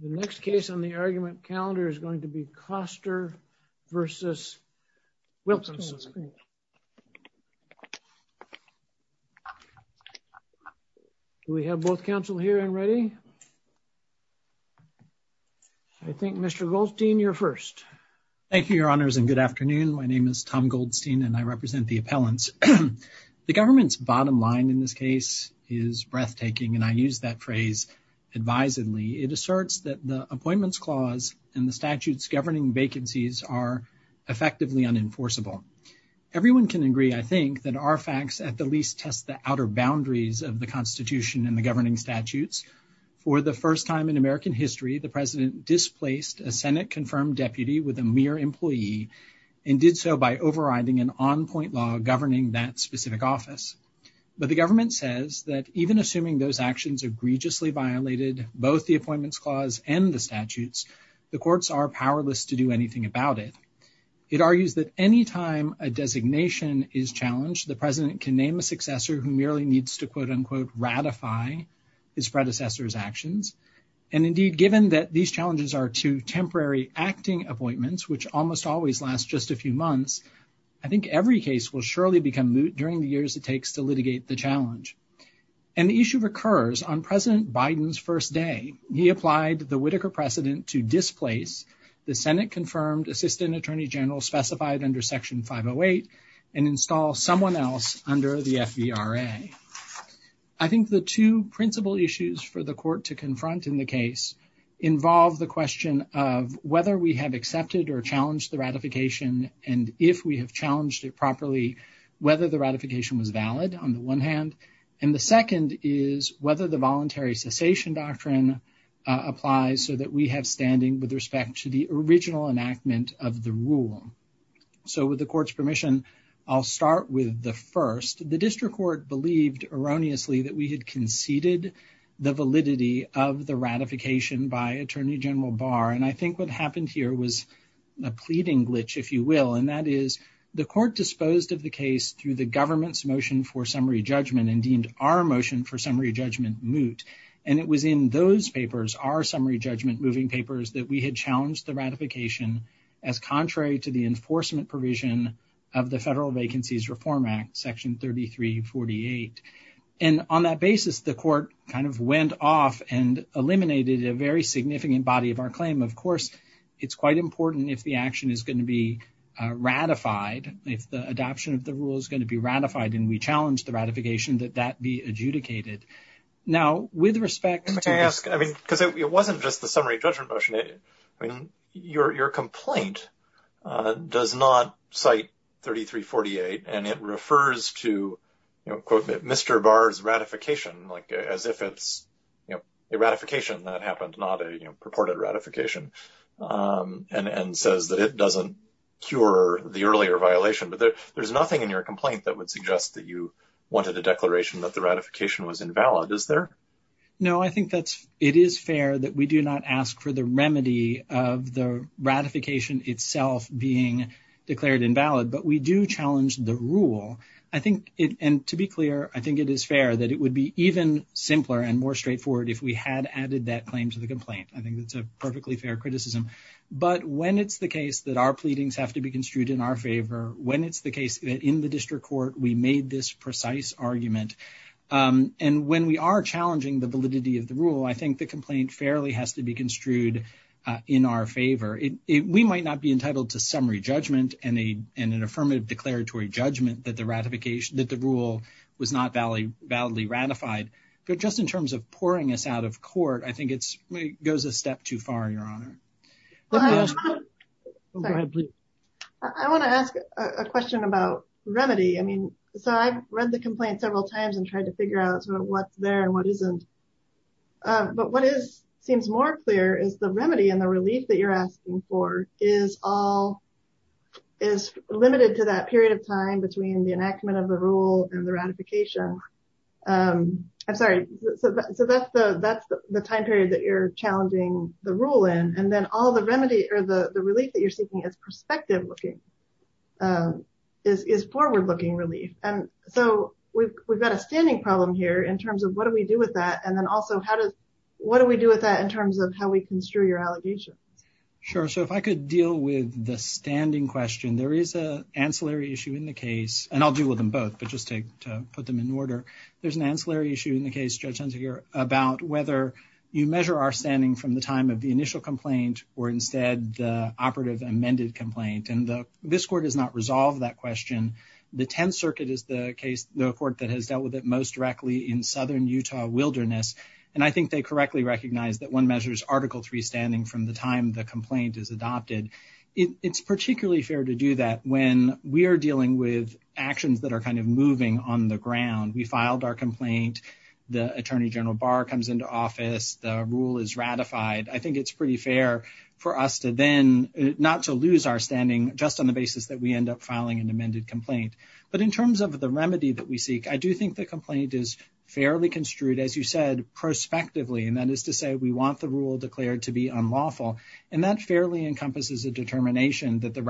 The next case on the argument calendar is going to be Koster v. Wilkinson. We have both counsel here and ready? I think Mr. Goldstein, you're first. Thank you, Your Honors, and good afternoon. My name is Tom Goldstein, and I represent the appellants. The government's bottom line in this case is breathtaking, and I use that phrase advisedly. It asserts that the Appointments Clause and the statute's governing vacancies are effectively unenforceable. Everyone can agree, I think, that our facts at the least test the outer boundaries of the Constitution and the governing statutes. For the first time in American history, the President displaced a Senate-confirmed deputy with a mere employee and did so by overriding an on-point law governing that specific office. But the government says that even assuming those actions egregiously violated both the Appointments Clause and the statutes, the courts are powerless to do anything about it. It argues that any time a designation is challenged, the President can name a successor who merely needs to, quote-unquote, ratify his predecessor's actions. And indeed, given that these challenges are two temporary acting appointments which almost always last just a few months, I think every case will surely become moot during the years it takes to litigate the challenge. And the issue recurs on President Biden's first day. He applied the Whitaker precedent to displace the Senate-confirmed Assistant Attorney General specified under Section 508 and install someone else under the FVRA. I think the two principal issues for the court to confront in the case involve the question of whether we have accepted or challenged the ratification, and if we have challenged it properly, whether the ratification was valid on the one hand, and the second is whether the Voluntary Cessation Doctrine applies so that we have standing with respect to the original enactment of the rule. So with the Court's permission, I'll start with the first. The District Court believed erroneously that we had conceded the validity of the ratification by Attorney General Barr, and I think what happened here was a pleading glitch, if you will, and that is the Court disposed of the case through the government's motion for summary judgment and deemed our motion for summary judgment moot. And it was in those papers, our summary judgment moving papers, that we had challenged the ratification as contrary to the enforcement provision of the Federal Vacancies Reform Act, Section 3348. And on that basis, the Court kind of went off and eliminated a very of course, it's quite important if the action is going to be ratified, if the adoption of the rule is going to be ratified, and we challenge the ratification, that that be adjudicated. Now, with respect to... Can I ask, I mean, because it wasn't just the summary judgment motion, I mean, your complaint does not cite 3348, and it refers to, you know, quote, Mr. Barr's ratification, like as if it's, you know, a ratification that happened, not a purported ratification, and says that it doesn't cure the earlier violation. But there's nothing in your complaint that would suggest that you wanted a declaration that the ratification was invalid, is there? No, I think that it is fair that we do not ask for the remedy of the ratification itself being declared invalid, but we do challenge the rule. I think it, and to be clear, I think it is fair that it would be even simpler and more straightforward if we had added that claim to the complaint. I think that's a perfectly fair criticism. But when it's the case that our pleadings have to be construed in our favor, when it's the case that in the district court we made this precise argument, and when we are challenging the validity of the rule, I think the complaint fairly has to be construed in our favor. We might not be entitled to summary judgment and an ratification, but just in terms of pouring us out of court, I think it goes a step too far, Your Honor. I want to ask a question about remedy. I mean, so I've read the complaint several times and tried to figure out sort of what's there and what isn't. But what is, seems more clear is the remedy and the relief that you're asking for is all, is limited to that period of time between the enactment of the rule and the ratification. I'm sorry. So that's the time period that you're challenging the rule in. And then all the remedy or the relief that you're seeking is perspective-looking, is forward-looking relief. And so we've got a standing problem here in terms of what do we do with that? And then also how does, what do we do with that in terms of how we construe your allegations? Sure. So if I could deal with the standing question, there is an ancillary issue in the There's an ancillary issue in the case, Judge Hunter, here about whether you measure our standing from the time of the initial complaint or instead the operative amended complaint. And this court has not resolved that question. The Tenth Circuit is the case, the court that has dealt with it most directly in Southern Utah wilderness. And I think they correctly recognize that one measures Article III standing from the time the complaint is adopted. It's particularly fair to do that when we are dealing with actions that are kind of moving on the ground. We filed our complaint, the Attorney General Barr comes into office, the rule is ratified. I think it's pretty fair for us to then, not to lose our standing just on the basis that we end up filing an amended complaint. But in terms of the remedy that we seek, I do think the complaint is fairly construed, as you said, prospectively, and that is to say we want the rule declared to be unlawful. And that fairly encompasses a determination that the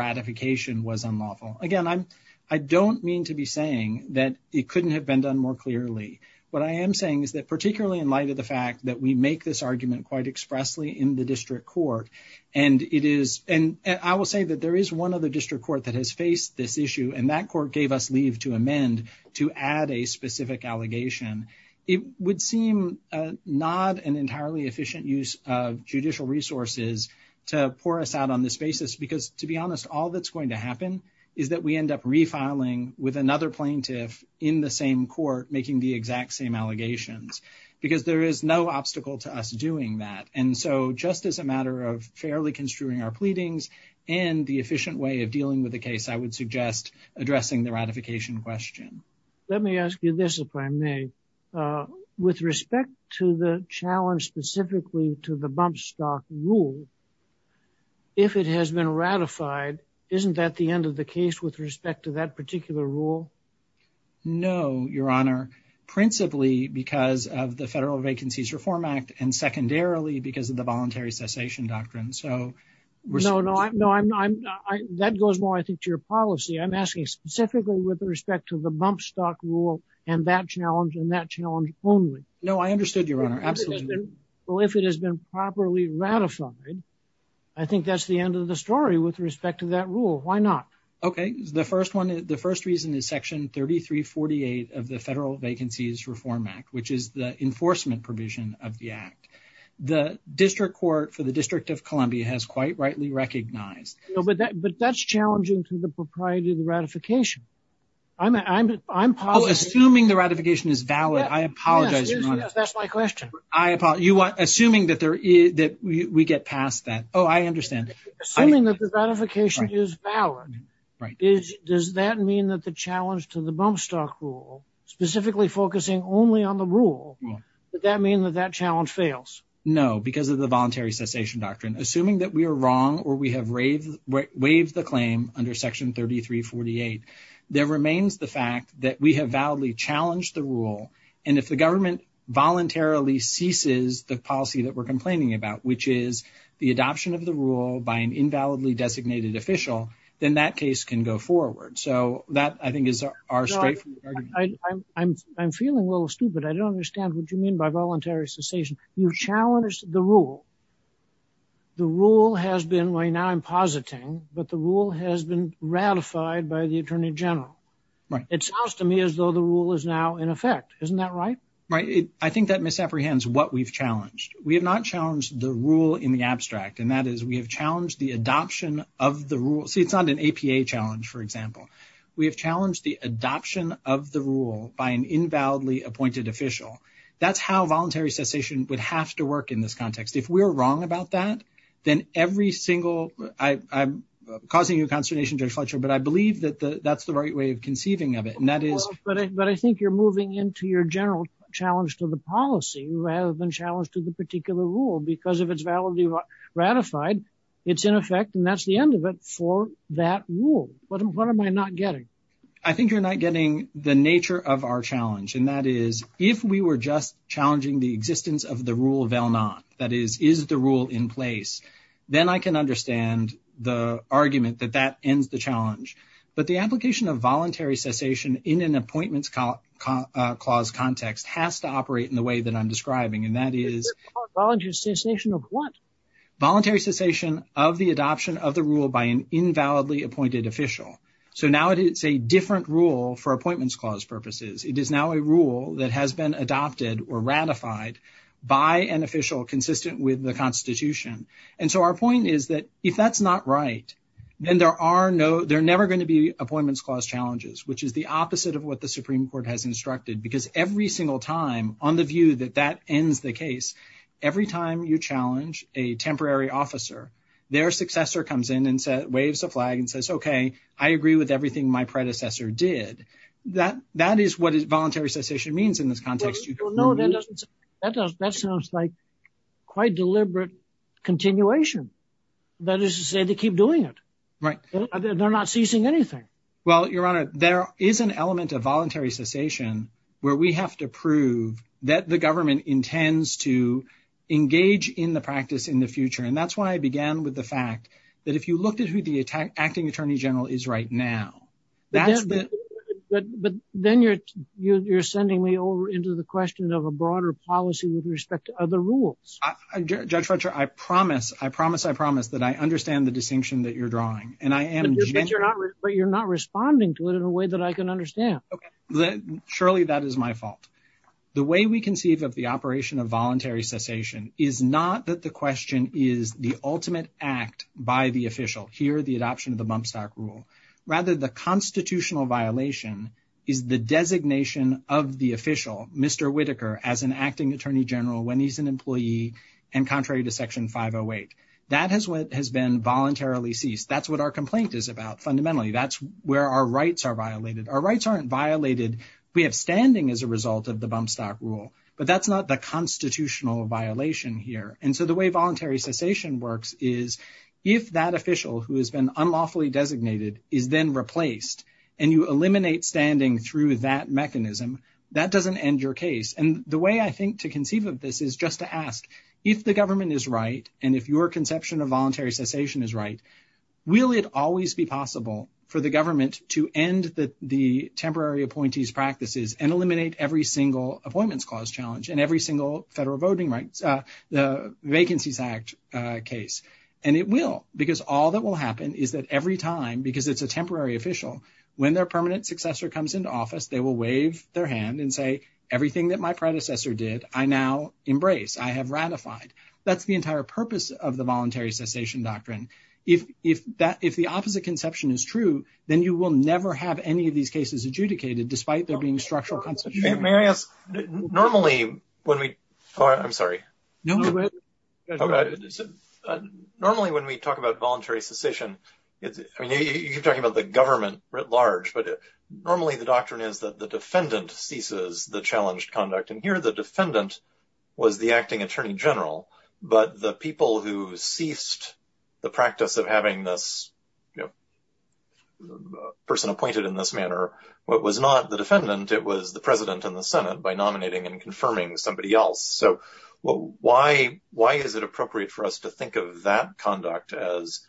couldn't have been done more clearly. What I am saying is that particularly in light of the fact that we make this argument quite expressly in the district court, and it is, and I will say that there is one other district court that has faced this issue, and that court gave us leave to amend to add a specific allegation. It would seem not an entirely efficient use of judicial resources to pour us out on this basis, because to be honest, all that's going to happen is that we in the same court making the exact same allegations, because there is no obstacle to us doing that. And so just as a matter of fairly construing our pleadings, and the efficient way of dealing with the case, I would suggest addressing the ratification question. Let me ask you this, if I may. With respect to the challenge specifically to the bump stock rule, if it has been ratified, isn't that the end of the case with respect to that particular rule? No, Your Honor. Principally because of the Federal Vacancies Reform Act, and secondarily because of the voluntary cessation doctrine. No, no. That goes more, I think, to your policy. I'm asking specifically with respect to the bump stock rule and that challenge and that challenge only. No, I understood, Your Honor. Absolutely. Well, if it has been properly ratified, I think that's the end of the story with respect to that rule. Why not? Okay. The first reason is Section 3348 of the Federal Vacancies Reform Act, which is the enforcement provision of the Act. The District Court for the District of Columbia has quite rightly recognized. But that's challenging to the propriety of the ratification. I'm positive. Assuming the ratification is valid, I apologize, Your Honor. Yes, that's my question. Assuming that we get past that. Oh, I understand. Assuming that the ratification is valid. Does that mean that the challenge to the bump stock rule, specifically focusing only on the rule, would that mean that that challenge fails? No, because of the voluntary cessation doctrine. Assuming that we are wrong or we have waived the claim under Section 3348, there remains the fact that we have validly challenged the rule. And if the government voluntarily ceases the policy that we're complaining about, which is the adoption of the rule by an invalidly designated official, then that case can go forward. So that, I think, is our straightforward argument. I'm feeling a little stupid. I don't understand what you mean by voluntary cessation. You've challenged the rule. The rule has been, right now I'm positing, but the rule has been ratified by the Attorney General. Right. It sounds to me as though the rule is now in effect. Isn't that right? Right. I think that misapprehends what we've challenged. We have not challenged the rule in the abstract, and that is we have challenged the adoption of the rule. See, it's not an APA challenge, for example. We have challenged the adoption of the rule by an invalidly appointed official. That's how voluntary cessation would have to work in this context. If we're wrong about that, then every single... I'm causing you a consternation, Judge Fletcher, but I believe that that's the right way of conceiving of it, and that is... But I think you're moving into your general challenge to the policy, rather than challenge to the particular rule, because if it's validly ratified, it's in effect, and that's the end of it for that rule. What am I not getting? I think you're not getting the nature of our challenge, and that is, if we were just challenging the existence of the rule of LNAT, that is, is the rule in place, then I can understand the argument that that ends the challenge. But the application of has to operate in the way that I'm describing, and that is... Voluntary cessation of what? Voluntary cessation of the adoption of the rule by an invalidly appointed official. So now it's a different rule for Appointments Clause purposes. It is now a rule that has been adopted or ratified by an official consistent with the Constitution. And so our point is that if that's not right, then there are no... There are never going to be Appointments Clause challenges, which is the opposite of what the Supreme Court has instructed. Because every single time, on the view that that ends the case, every time you challenge a temporary officer, their successor comes in and waves a flag and says, okay, I agree with everything my predecessor did. That is what voluntary cessation means in this context. That sounds like quite deliberate continuation. That is to say, they keep doing it. They're not ceasing anything. Well, Your Honor, there is an element of voluntary cessation where we have to prove that the government intends to engage in the practice in the future. And that's why I began with the fact that if you looked at who the acting Attorney General is right now, that's the... But then you're sending me over into the question of a broader policy with respect to other rules. Judge Fletcher, I promise, I promise, I promise that I understand the distinction that you're responding to it in a way that I can understand. Okay. Surely, that is my fault. The way we conceive of the operation of voluntary cessation is not that the question is the ultimate act by the official. Here, the adoption of the bump stock rule. Rather, the constitutional violation is the designation of the official, Mr. Whitaker, as an acting Attorney General when he's an employee and contrary to Section 508. That has been voluntarily ceased. That's what our complaint is about. Fundamentally, that's where our rights are violated. Our rights aren't violated. We have standing as a result of the bump stock rule, but that's not the constitutional violation here. And so the way voluntary cessation works is if that official who has been unlawfully designated is then replaced and you eliminate standing through that mechanism, that doesn't end your case. And the way I think to conceive of this is just to ask if the government is right and if your the government to end the temporary appointees practices and eliminate every single appointments clause challenge and every single federal voting rights, the Vacancies Act case. And it will, because all that will happen is that every time, because it's a temporary official, when their permanent successor comes into office, they will wave their hand and say, everything that my predecessor did, I now embrace. I have ratified. That's the entire purpose of the is true, then you will never have any of these cases adjudicated despite there being structural consequences. Normally when we talk about voluntary cessation, you're talking about the government writ large, but normally the doctrine is that the defendant ceases the challenged conduct. And here the defendant was the acting attorney general, but the people who ceased the practice of having this person appointed in this manner, what was not the defendant, it was the president and the Senate by nominating and confirming somebody else. So why is it appropriate for us to think of that conduct as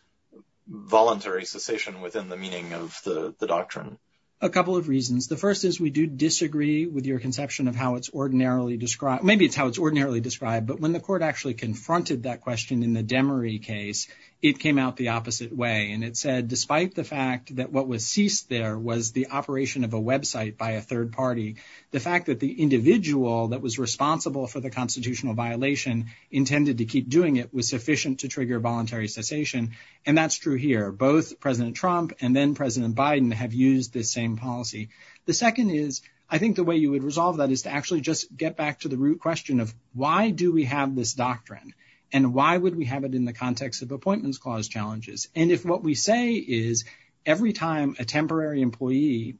voluntary cessation within the meaning of the doctrine? A couple of reasons. The first is we do disagree with your conception of how it's ordinarily described. Maybe it's how it's ordinarily described, but when the court actually confronted that question in the Demery case, it came out the opposite way. And it said, despite the fact that what was ceased there was the operation of a website by a third party, the fact that the individual that was responsible for the constitutional violation intended to keep doing it was sufficient to trigger voluntary cessation. And that's true here, both president Trump and then president Biden have used this same policy. The second is, I think the way you would resolve that is to actually just get back to the root question of why do we have this doctrine and why would we have it in the context of appointments clause challenges? And if what we say is every time a temporary employee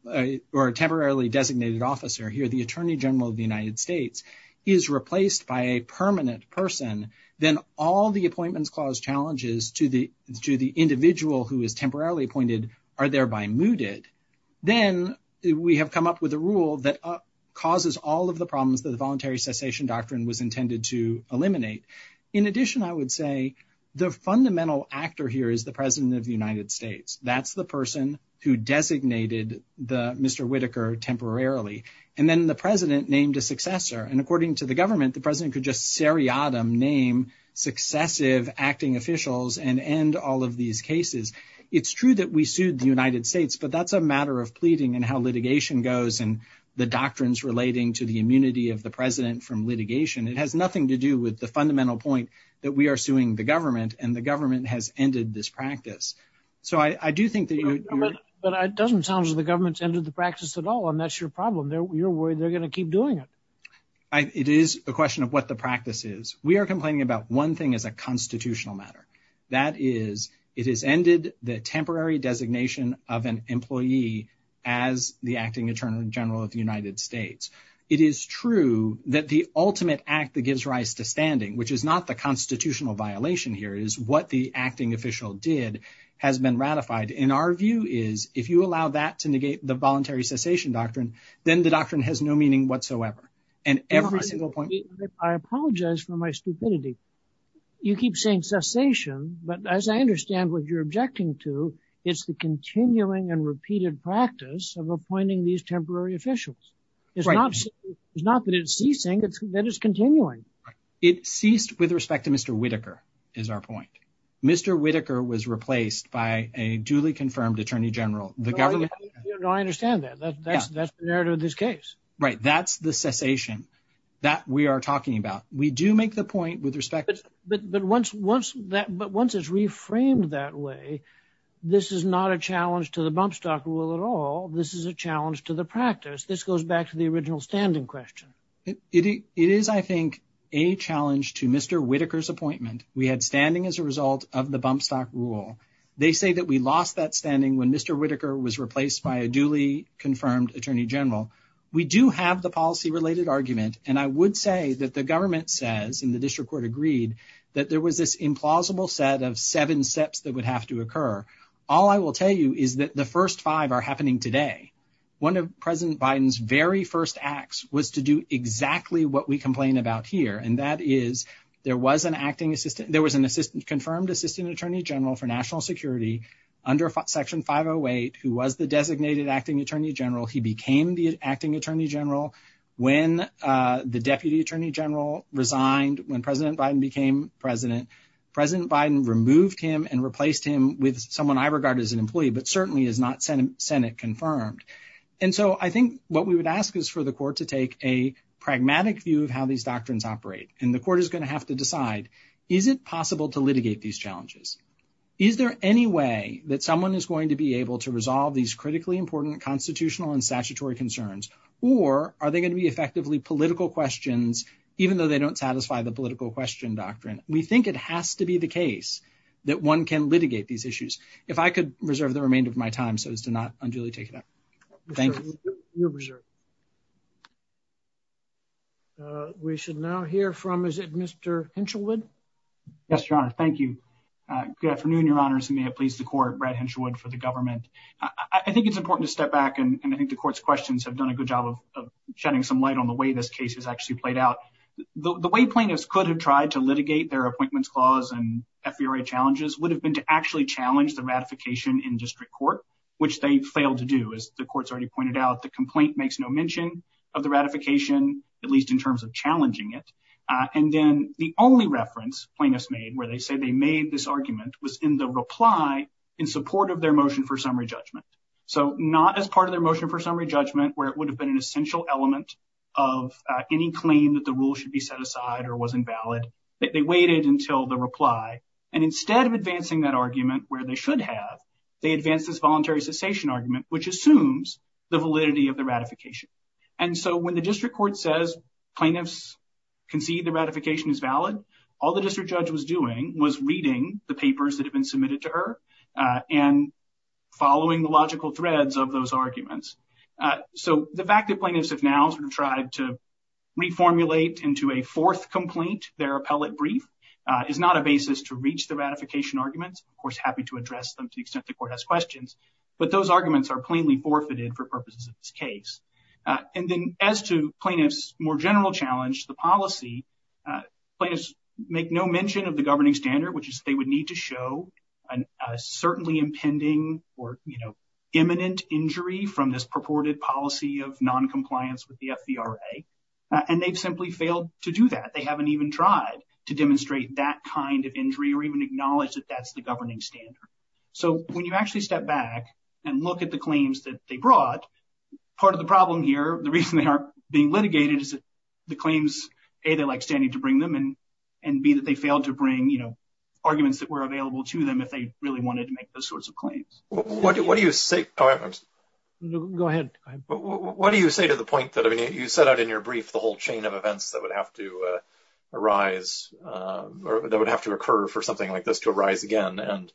or a temporarily designated officer here, the attorney general of the United States is replaced by a permanent person, then all the appointments clause challenges to the individual who is temporarily appointed are thereby mooted. Then we have come up with a rule that causes all of the problems that voluntary cessation doctrine was intended to eliminate. In addition, I would say the fundamental actor here is the president of the United States. That's the person who designated the Mr. Whitaker temporarily. And then the president named a successor. And according to the government, the president could just seriatim name successive acting officials and end all of these cases. It's true that we sued the United States, but that's a matter of pleading and how litigation goes and the doctrines relating to the immunity of the president from litigation. It has nothing to do with the fundamental point that we are suing the government and the government has ended this practice. So I do think that. But it doesn't sound as the government's ended the practice at all. And that's your problem. You're worried they're going to keep doing it. It is a question of what the practice is. We are complaining about one thing as a constitutional matter. That is, it is ended the temporary designation of an employee as the acting attorney general of the United States. It is true that the ultimate act that gives rise to standing, which is not the constitutional violation here, is what the acting official did has been ratified. And our view is if you allow that to negate the voluntary cessation doctrine, then the doctrine has no meaning whatsoever. And every single point. I apologize for my stupidity. You keep saying cessation. But as I understand what you're objecting to, it's the continuing and repeated practice of appointing these temporary officials. It's not that it's ceasing, it's that it's continuing. It ceased with respect to Mr. Whitaker is our point. Mr. Whitaker was replaced by a duly confirmed attorney general. The government. I understand that. That's the narrative of this case, right? That's the cessation that we are talking about. We do make the point with respect. But but once once that but once it's reframed that way, this is not a challenge to the bump stock rule at all. This is a challenge to the practice. This goes back to the original standing question. It is, I think, a challenge to Mr. Whitaker's appointment. We had standing as a result of the bump stock rule. They say that we lost that standing when Mr. Whitaker was replaced by a duly confirmed attorney general. We do have the policy related argument, and I would say that the government says in the district court agreed that there was this implausible set of seven steps that would have to occur. All I will tell you is that the first five are happening today. One of President Biden's very first acts was to do exactly what we complain about here, and that is there was an acting assistant. There was an assistant confirmed attorney general for national security under Section 508, who was the designated acting attorney general. He became the acting attorney general when the deputy attorney general resigned when President Biden became president. President Biden removed him and replaced him with someone I regard as an employee, but certainly is not Senate confirmed. And so I think what we would ask is for the court to take a pragmatic view of how these doctrines operate, and the court is possible to litigate these challenges. Is there any way that someone is going to be able to resolve these critically important constitutional and statutory concerns, or are they going to be effectively political questions, even though they don't satisfy the political question doctrine? We think it has to be the case that one can litigate these issues. If I could reserve the remainder of my time so as to not unduly take it up. Thank you. You're reserved. We should now hear from, is it Mr. Henshelwood? Yes, Your Honor. Thank you. Good afternoon, Your Honors, and may it please the court, Brad Henshelwood for the government. I think it's important to step back, and I think the court's questions have done a good job of shedding some light on the way this case has actually played out. The way plaintiffs could have tried to litigate their appointments clause and FVRA challenges would have been to actually challenge the ratification in district court, which they failed to do. As the court's already pointed out, the mention of the ratification, at least in terms of challenging it, and then the only reference plaintiffs made where they say they made this argument was in the reply in support of their motion for summary judgment. So not as part of their motion for summary judgment where it would have been an essential element of any claim that the rule should be set aside or wasn't valid. They waited until the reply, and instead of advancing that argument where they should have, they advanced this voluntary cessation argument, which assumes the validity of the ratification. And so when the district court says plaintiffs concede the ratification is valid, all the district judge was doing was reading the papers that have been submitted to her and following the logical threads of those arguments. So the fact that plaintiffs have now sort of tried to reformulate into a fourth complaint their appellate brief is not a basis to reach the ratification arguments. Of course, happy to address them to the extent the court has questions, but those arguments are plainly forfeited for purposes of this case. And then as to plaintiffs' more general challenge to the policy, plaintiffs make no mention of the governing standard, which is they would need to show a certainly impending or imminent injury from this purported policy of non-compliance with the FVRA, and they've simply failed to do that. They haven't even tried to demonstrate that kind of injury or even acknowledge that that's the governing standard. So when you actually step back and look at the claims that they brought, part of the problem here, the reason they aren't being litigated, is that the claims, A, they like standing to bring them, and B, that they failed to bring, you know, arguments that were available to them if they really wanted to make those sorts of claims. What do you say to the point that, I mean, you set out in your brief the whole chain of events that would have to arise or that would have to occur for something like this to arise again, and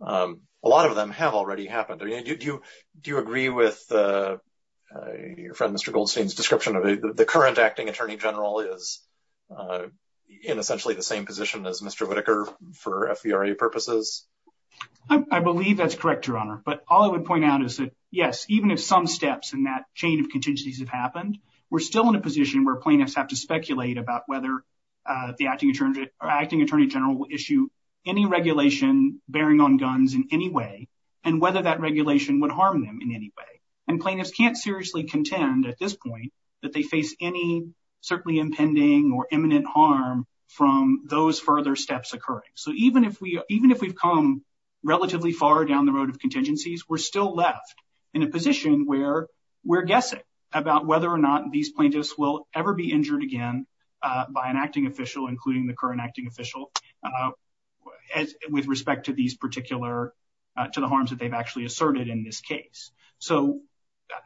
a lot of them have already happened. Do you agree with your friend Mr. Goldstein's description of the current acting attorney general is in essentially the same position as Mr. Whitaker for FVRA purposes? I believe that's correct, Your Honor, but all I would point out is that, yes, even if some steps in that chain of we're still in a position where plaintiffs have to speculate about whether the acting attorney general will issue any regulation bearing on guns in any way and whether that regulation would harm them in any way, and plaintiffs can't seriously contend at this point that they face any certainly impending or imminent harm from those further steps occurring. So even if we've come relatively far down the road of contingencies, we're still left in a position where we're guessing about whether or not these plaintiffs will ever be injured again by an acting official, including the current acting official, with respect to these particular, to the harms that they've actually asserted in this case. So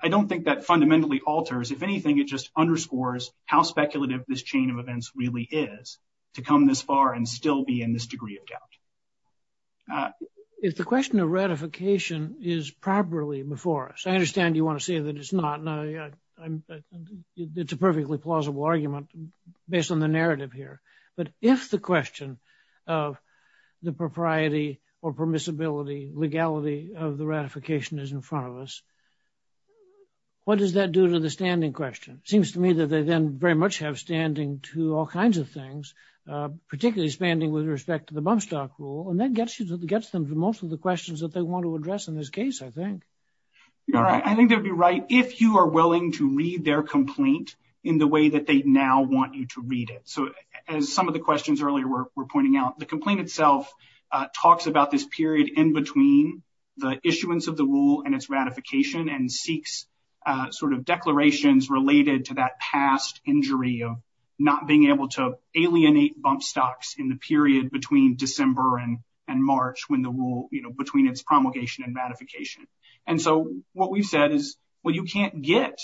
I don't think that fundamentally alters. If anything, it just underscores how speculative this chain of events really is to come this far and still be in this degree of doubt. If the question of ratification is properly before us, I understand you want to say that it's not. It's a perfectly plausible argument based on the narrative here, but if the question of the propriety or permissibility, legality of the ratification is in front of us, what does that do to the standing question? Seems to me that they then very much have standing to all kinds of things, particularly standing with respect to the Bumstock Rule, and that gets you to, gets them to most of the questions that they want to address in this case, I think. You're right. I think they'd be right if you are willing to read their complaint in the way that they now want you to read it. So as some of the questions earlier were pointing out, the complaint itself talks about this period in between the issuance of the rule and its ratification and seeks sort of declarations related to that past injury of not being able to alienate Bumstocks in the period between December and March when the rule, you know, between its promulgation and so what we've said is, well, you can't get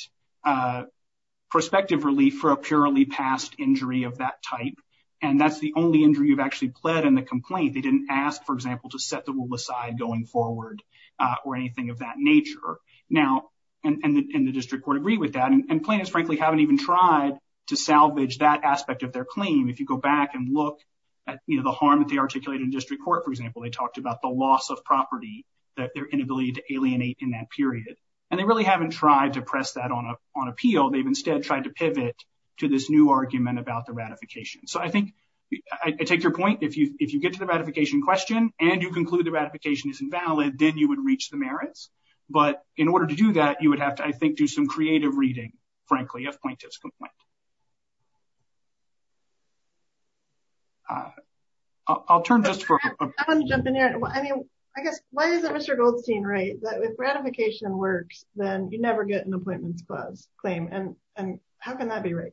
prospective relief for a purely past injury of that type, and that's the only injury you've actually pled in the complaint. They didn't ask, for example, to set the rule aside going forward or anything of that nature. Now, and the district court agreed with that, and plaintiffs frankly haven't even tried to salvage that aspect of their claim. If you go back and look at, you know, the harm that they articulated in district court, they talked about the loss of property, their inability to alienate in that period, and they really haven't tried to press that on appeal. They've instead tried to pivot to this new argument about the ratification. So I think I take your point. If you get to the ratification question and you conclude the ratification is invalid, then you would reach the merits. But in order to do that, you would have to, I think, do some creative reading, frankly, of plaintiff's complaint. I'll turn just for... I want to jump in here. I mean, I guess, why isn't Mr. Goldstein right that if ratification works, then you never get an appointments clause claim, and how can that be right?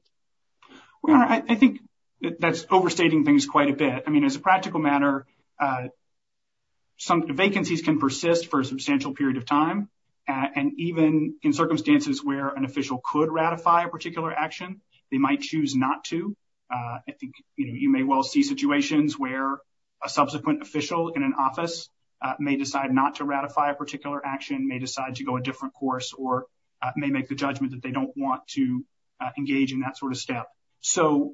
Well, I think that's overstating things quite a bit. I mean, as a practical matter, vacancies can persist for a substantial period of time, and even in circumstances where an official could ratify a particular action, they might choose not to. I think you may well see situations where a subsequent official in an office may decide not to ratify a particular action, may decide to go a different course, or may make the judgment that they don't want to engage in that sort of step. So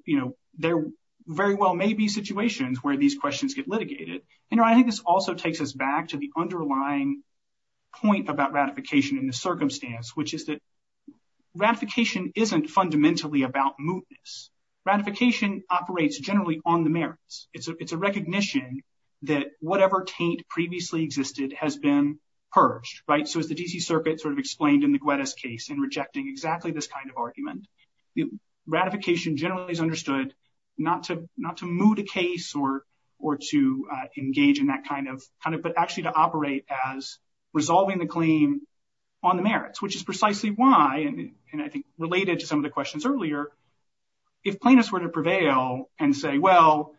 there very well may be situations where these questions get litigated. And I think this also takes us back to the underlying point about ratification in the circumstance, which is ratification isn't fundamentally about mootness. Ratification operates generally on the merits. It's a recognition that whatever taint previously existed has been purged, right? So as the D.C. Circuit sort of explained in the Guettis case in rejecting exactly this kind of argument, ratification generally is understood not to moot a case or to engage in that kind of... but actually to operate as resolving the claim on the merits, which is precisely why, and I think related to some of the questions earlier, if plaintiffs were to prevail and say, well,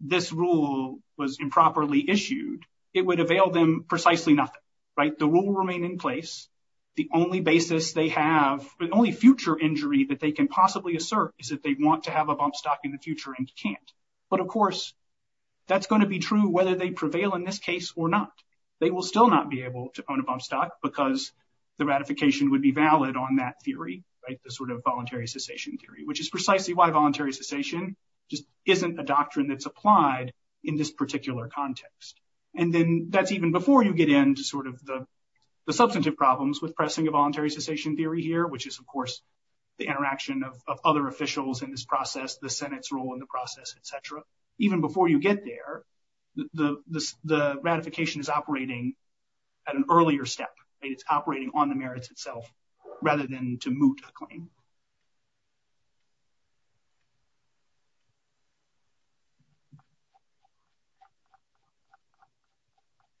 this rule was improperly issued, it would avail them precisely nothing, right? The rule will remain in place. The only basis they have, the only future injury that they can possibly assert is that they want to have a bump stock in the future and can't. But of course, that's going to be true whether they prevail in this case or not. They will still not be able to own a bump stock because the ratification would be valid on that theory, right? The sort of voluntary cessation theory, which is precisely why voluntary cessation just isn't a doctrine that's applied in this particular context. And then that's even before you get into sort of the substantive problems with pressing a voluntary cessation theory here, which is, of course, the interaction of other officials in this process, the Senate's role in the process, etc. Even before you get there, the ratification is operating at an earlier step. It's operating on the merits itself rather than to moot a claim.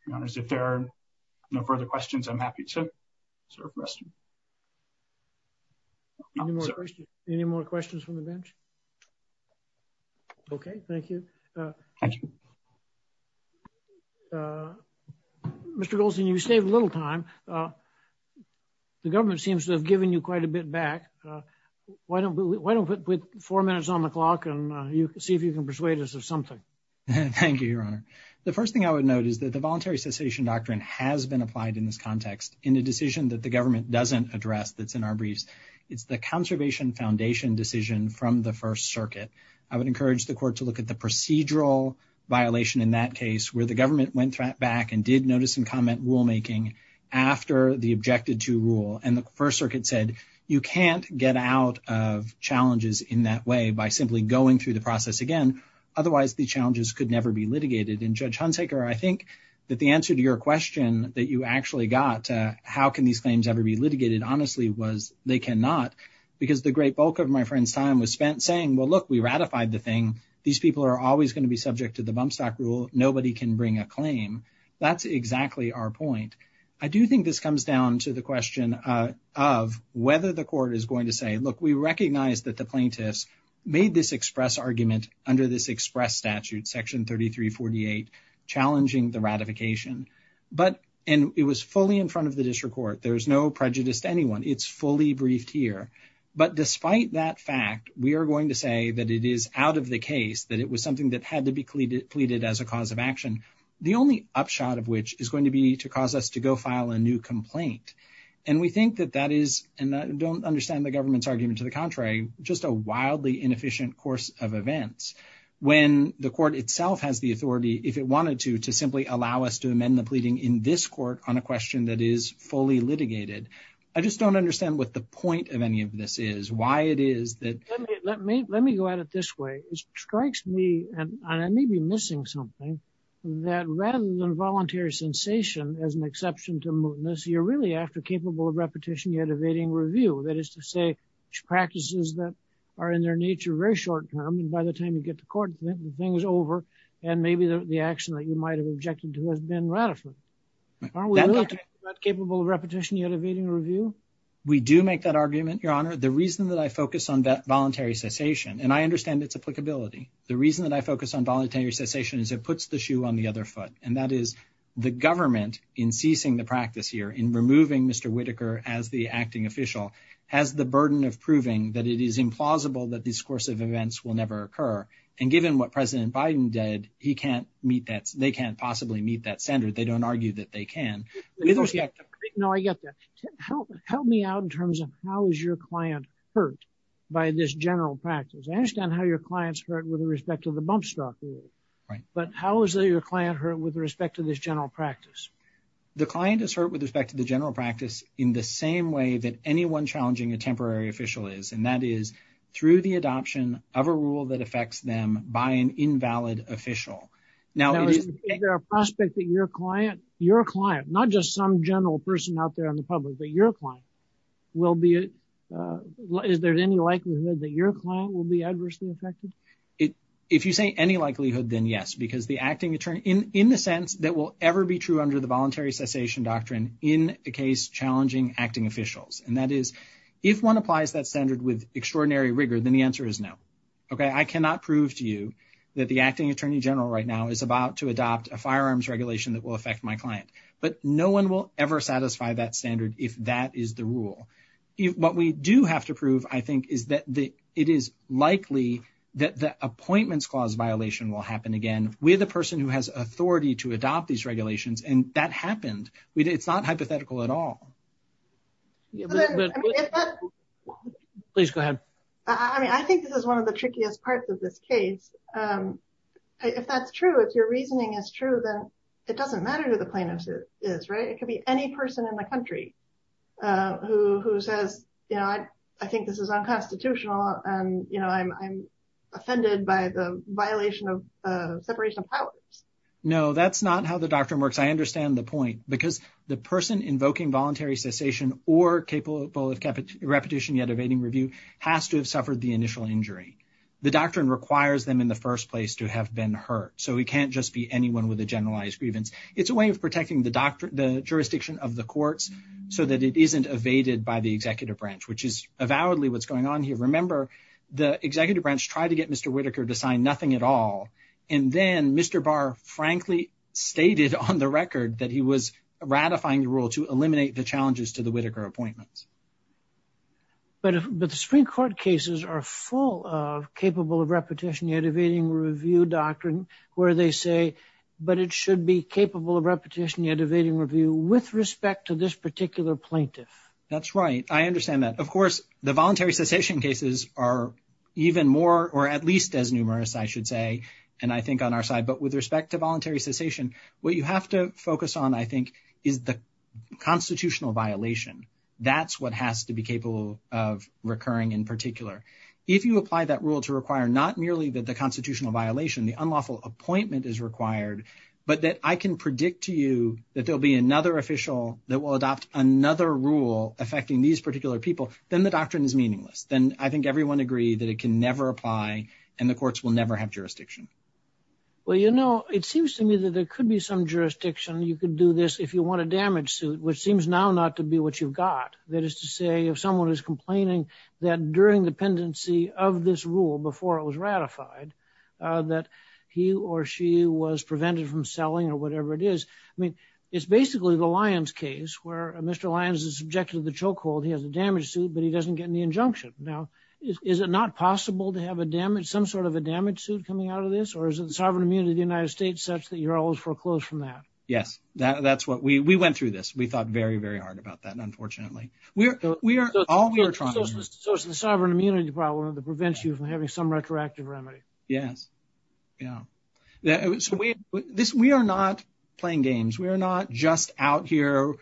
Your Honors, if there are no further questions, I'm happy to move on. Mr. Goldstein, you've saved a little time. The government seems to have given you quite a bit back. Why don't we put four minutes on the clock and see if you can persuade us of something? Thank you, Your Honor. The first thing I would note is that the voluntary cessation doctrine has been applied in this context in a decision that the government doesn't address that's in our briefs. It's the Conservation Foundation decision from the First Circuit. I would encourage the Court to look at the procedural violation in that case where the government went back and did notice and comment rulemaking after the Objected to Rule. And the First Circuit said you can't get out of challenges in that way by simply going through the process again. Otherwise, the challenges could never be litigated. And Judge Hunsaker, I think that the answer to your question that you actually got, how can these claims ever be litigated, honestly, was they cannot. Because the great bulk of my friend's time was spent saying, well, look, we ratified the thing. These people are always going to be subject to the bump stock rule. Nobody can bring a claim. That's exactly our point. I do think this comes down to the question of whether the Court is going to say, look, we recognize that the plaintiffs made this express argument under this express statute, Section 3348, challenging the ratification. And it was fully briefed here. But despite that fact, we are going to say that it is out of the case, that it was something that had to be pleaded as a cause of action, the only upshot of which is going to be to cause us to go file a new complaint. And we think that that is, and I don't understand the government's argument to the contrary, just a wildly inefficient course of events. When the Court itself has the authority, if it wanted to, to simply allow us to amend the any of this is, why it is that... Let me go at it this way. It strikes me, and I may be missing something, that rather than voluntary sensation as an exception to mootness, you're really after capable of repetition yet evading review. That is to say, practices that are in their nature very short term, and by the time you get to court, the thing is over. And maybe the action that you might have objected to has been ratified. Are we really not capable of repetition yet evading review? We do make that argument, Your Honor. The reason that I focus on that voluntary cessation, and I understand its applicability. The reason that I focus on voluntary cessation is it puts the shoe on the other foot. And that is the government in ceasing the practice here, in removing Mr. Whitaker as the acting official, has the burden of proving that it is implausible that this course of events will never occur. And given what President Biden did, he can't possibly meet that standard. They don't argue that they can. No, I get that. Help me out in terms of how is your client hurt by this general practice? I understand how your client's hurt with respect to the bump stop rule, but how is your client hurt with respect to this general practice? The client is hurt with respect to the general practice in the same way that anyone challenging a temporary official is, and that is through the prospect that your client, your client, not just some general person out there in the public, but your client will be, is there any likelihood that your client will be adversely affected? If you say any likelihood, then yes, because the acting attorney, in the sense that will ever be true under the voluntary cessation doctrine in a case challenging acting officials, and that is if one applies that standard with extraordinary rigor, then the answer is no. Okay, I cannot prove to you that the acting attorney general right now is about to adopt a firearms regulation that will affect my client, but no one will ever satisfy that standard if that is the rule. What we do have to prove, I think, is that it is likely that the appointments clause violation will happen again. We're the person who has authority to adopt these regulations, and that happened. It's not hypothetical at all. Please go ahead. I mean, I think this is one of the trickiest parts of this case. If that's true, if your reasoning is true, then it doesn't matter who the plaintiff is, right? It could be any person in the country who says, you know, I think this is unconstitutional, and, you know, I'm offended by the violation of separation of powers. No, that's not how the doctrine works. I understand the point, because the person invoking voluntary cessation or capable of repetition yet evading review has to have been a victim of the initial injury. The doctrine requires them in the first place to have been hurt, so he can't just be anyone with a generalized grievance. It's a way of protecting the jurisdiction of the courts so that it isn't evaded by the executive branch, which is avowedly what's going on here. Remember, the executive branch tried to get Mr. Whitaker to sign nothing at all, and then Mr. Barr frankly stated on the record that he was ratifying the challenges to the Whitaker appointments. But the Supreme Court cases are full of capable of repetition yet evading review doctrine, where they say, but it should be capable of repetition yet evading review with respect to this particular plaintiff. That's right, I understand that. Of course, the voluntary cessation cases are even more, or at least as numerous, I should say, and I think on our side, but with respect to voluntary cessation, what you have to focus on, is the constitutional violation. That's what has to be capable of recurring in particular. If you apply that rule to require not merely that the constitutional violation, the unlawful appointment is required, but that I can predict to you that there'll be another official that will adopt another rule affecting these particular people, then the doctrine is meaningless. Then I think everyone agreed that it can never apply, and the courts will never have jurisdiction. Well, you know, it seems to me that there could be some jurisdiction, you could do this if you want a damage suit, which seems now not to be what you've got. That is to say, if someone is complaining that during dependency of this rule before it was ratified, that he or she was prevented from selling or whatever it is. I mean, it's basically the Lyons case, where Mr. Lyons is subjected to the chokehold, he has a damage suit, but he doesn't get any injunction. Now, is it not possible to have some sort of a damage suit coming out of this? Or is the sovereign immunity of the United States such that you're always foreclosed from that? Yes, that's what we went through this. We thought very, very hard about that, unfortunately. So it's the sovereign immunity problem that prevents you from having some retroactive remedy. Yes. Yeah. We are not playing games. We are not just out here.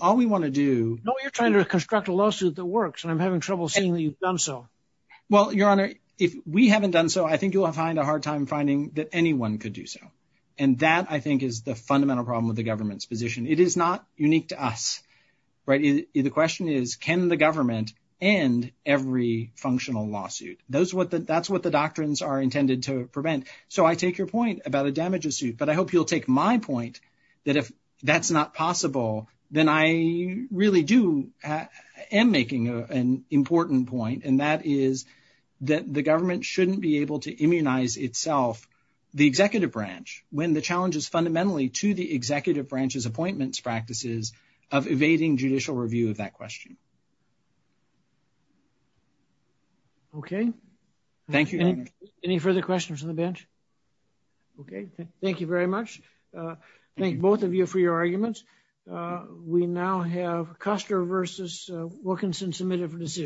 All we want to do... No, you're trying to construct a lawsuit that works, and I'm having trouble seeing that you've done so. Well, Your Honor, if we haven't done so, I think you'll find a hard time finding that anyone could do so. And that, I think, is the fundamental problem with the government's position. It is not unique to us, right? The question is, can the government end every functional lawsuit? That's what the doctrines are intended to prevent. So I take your point about a damage suit, but I hope you'll take my point that if that's not possible, then I really do am making an important point, and that is that the government shouldn't be able to immunize itself, the executive branch, when the challenge is fundamentally to the executive branch's appointments practices of evading judicial review of that question. Okay. Thank you, Your Honor. Any further questions on the bench? Okay. Thank you very much. Thank both of you for your arguments. We now have Custer versus Wilkinson submitted for decision.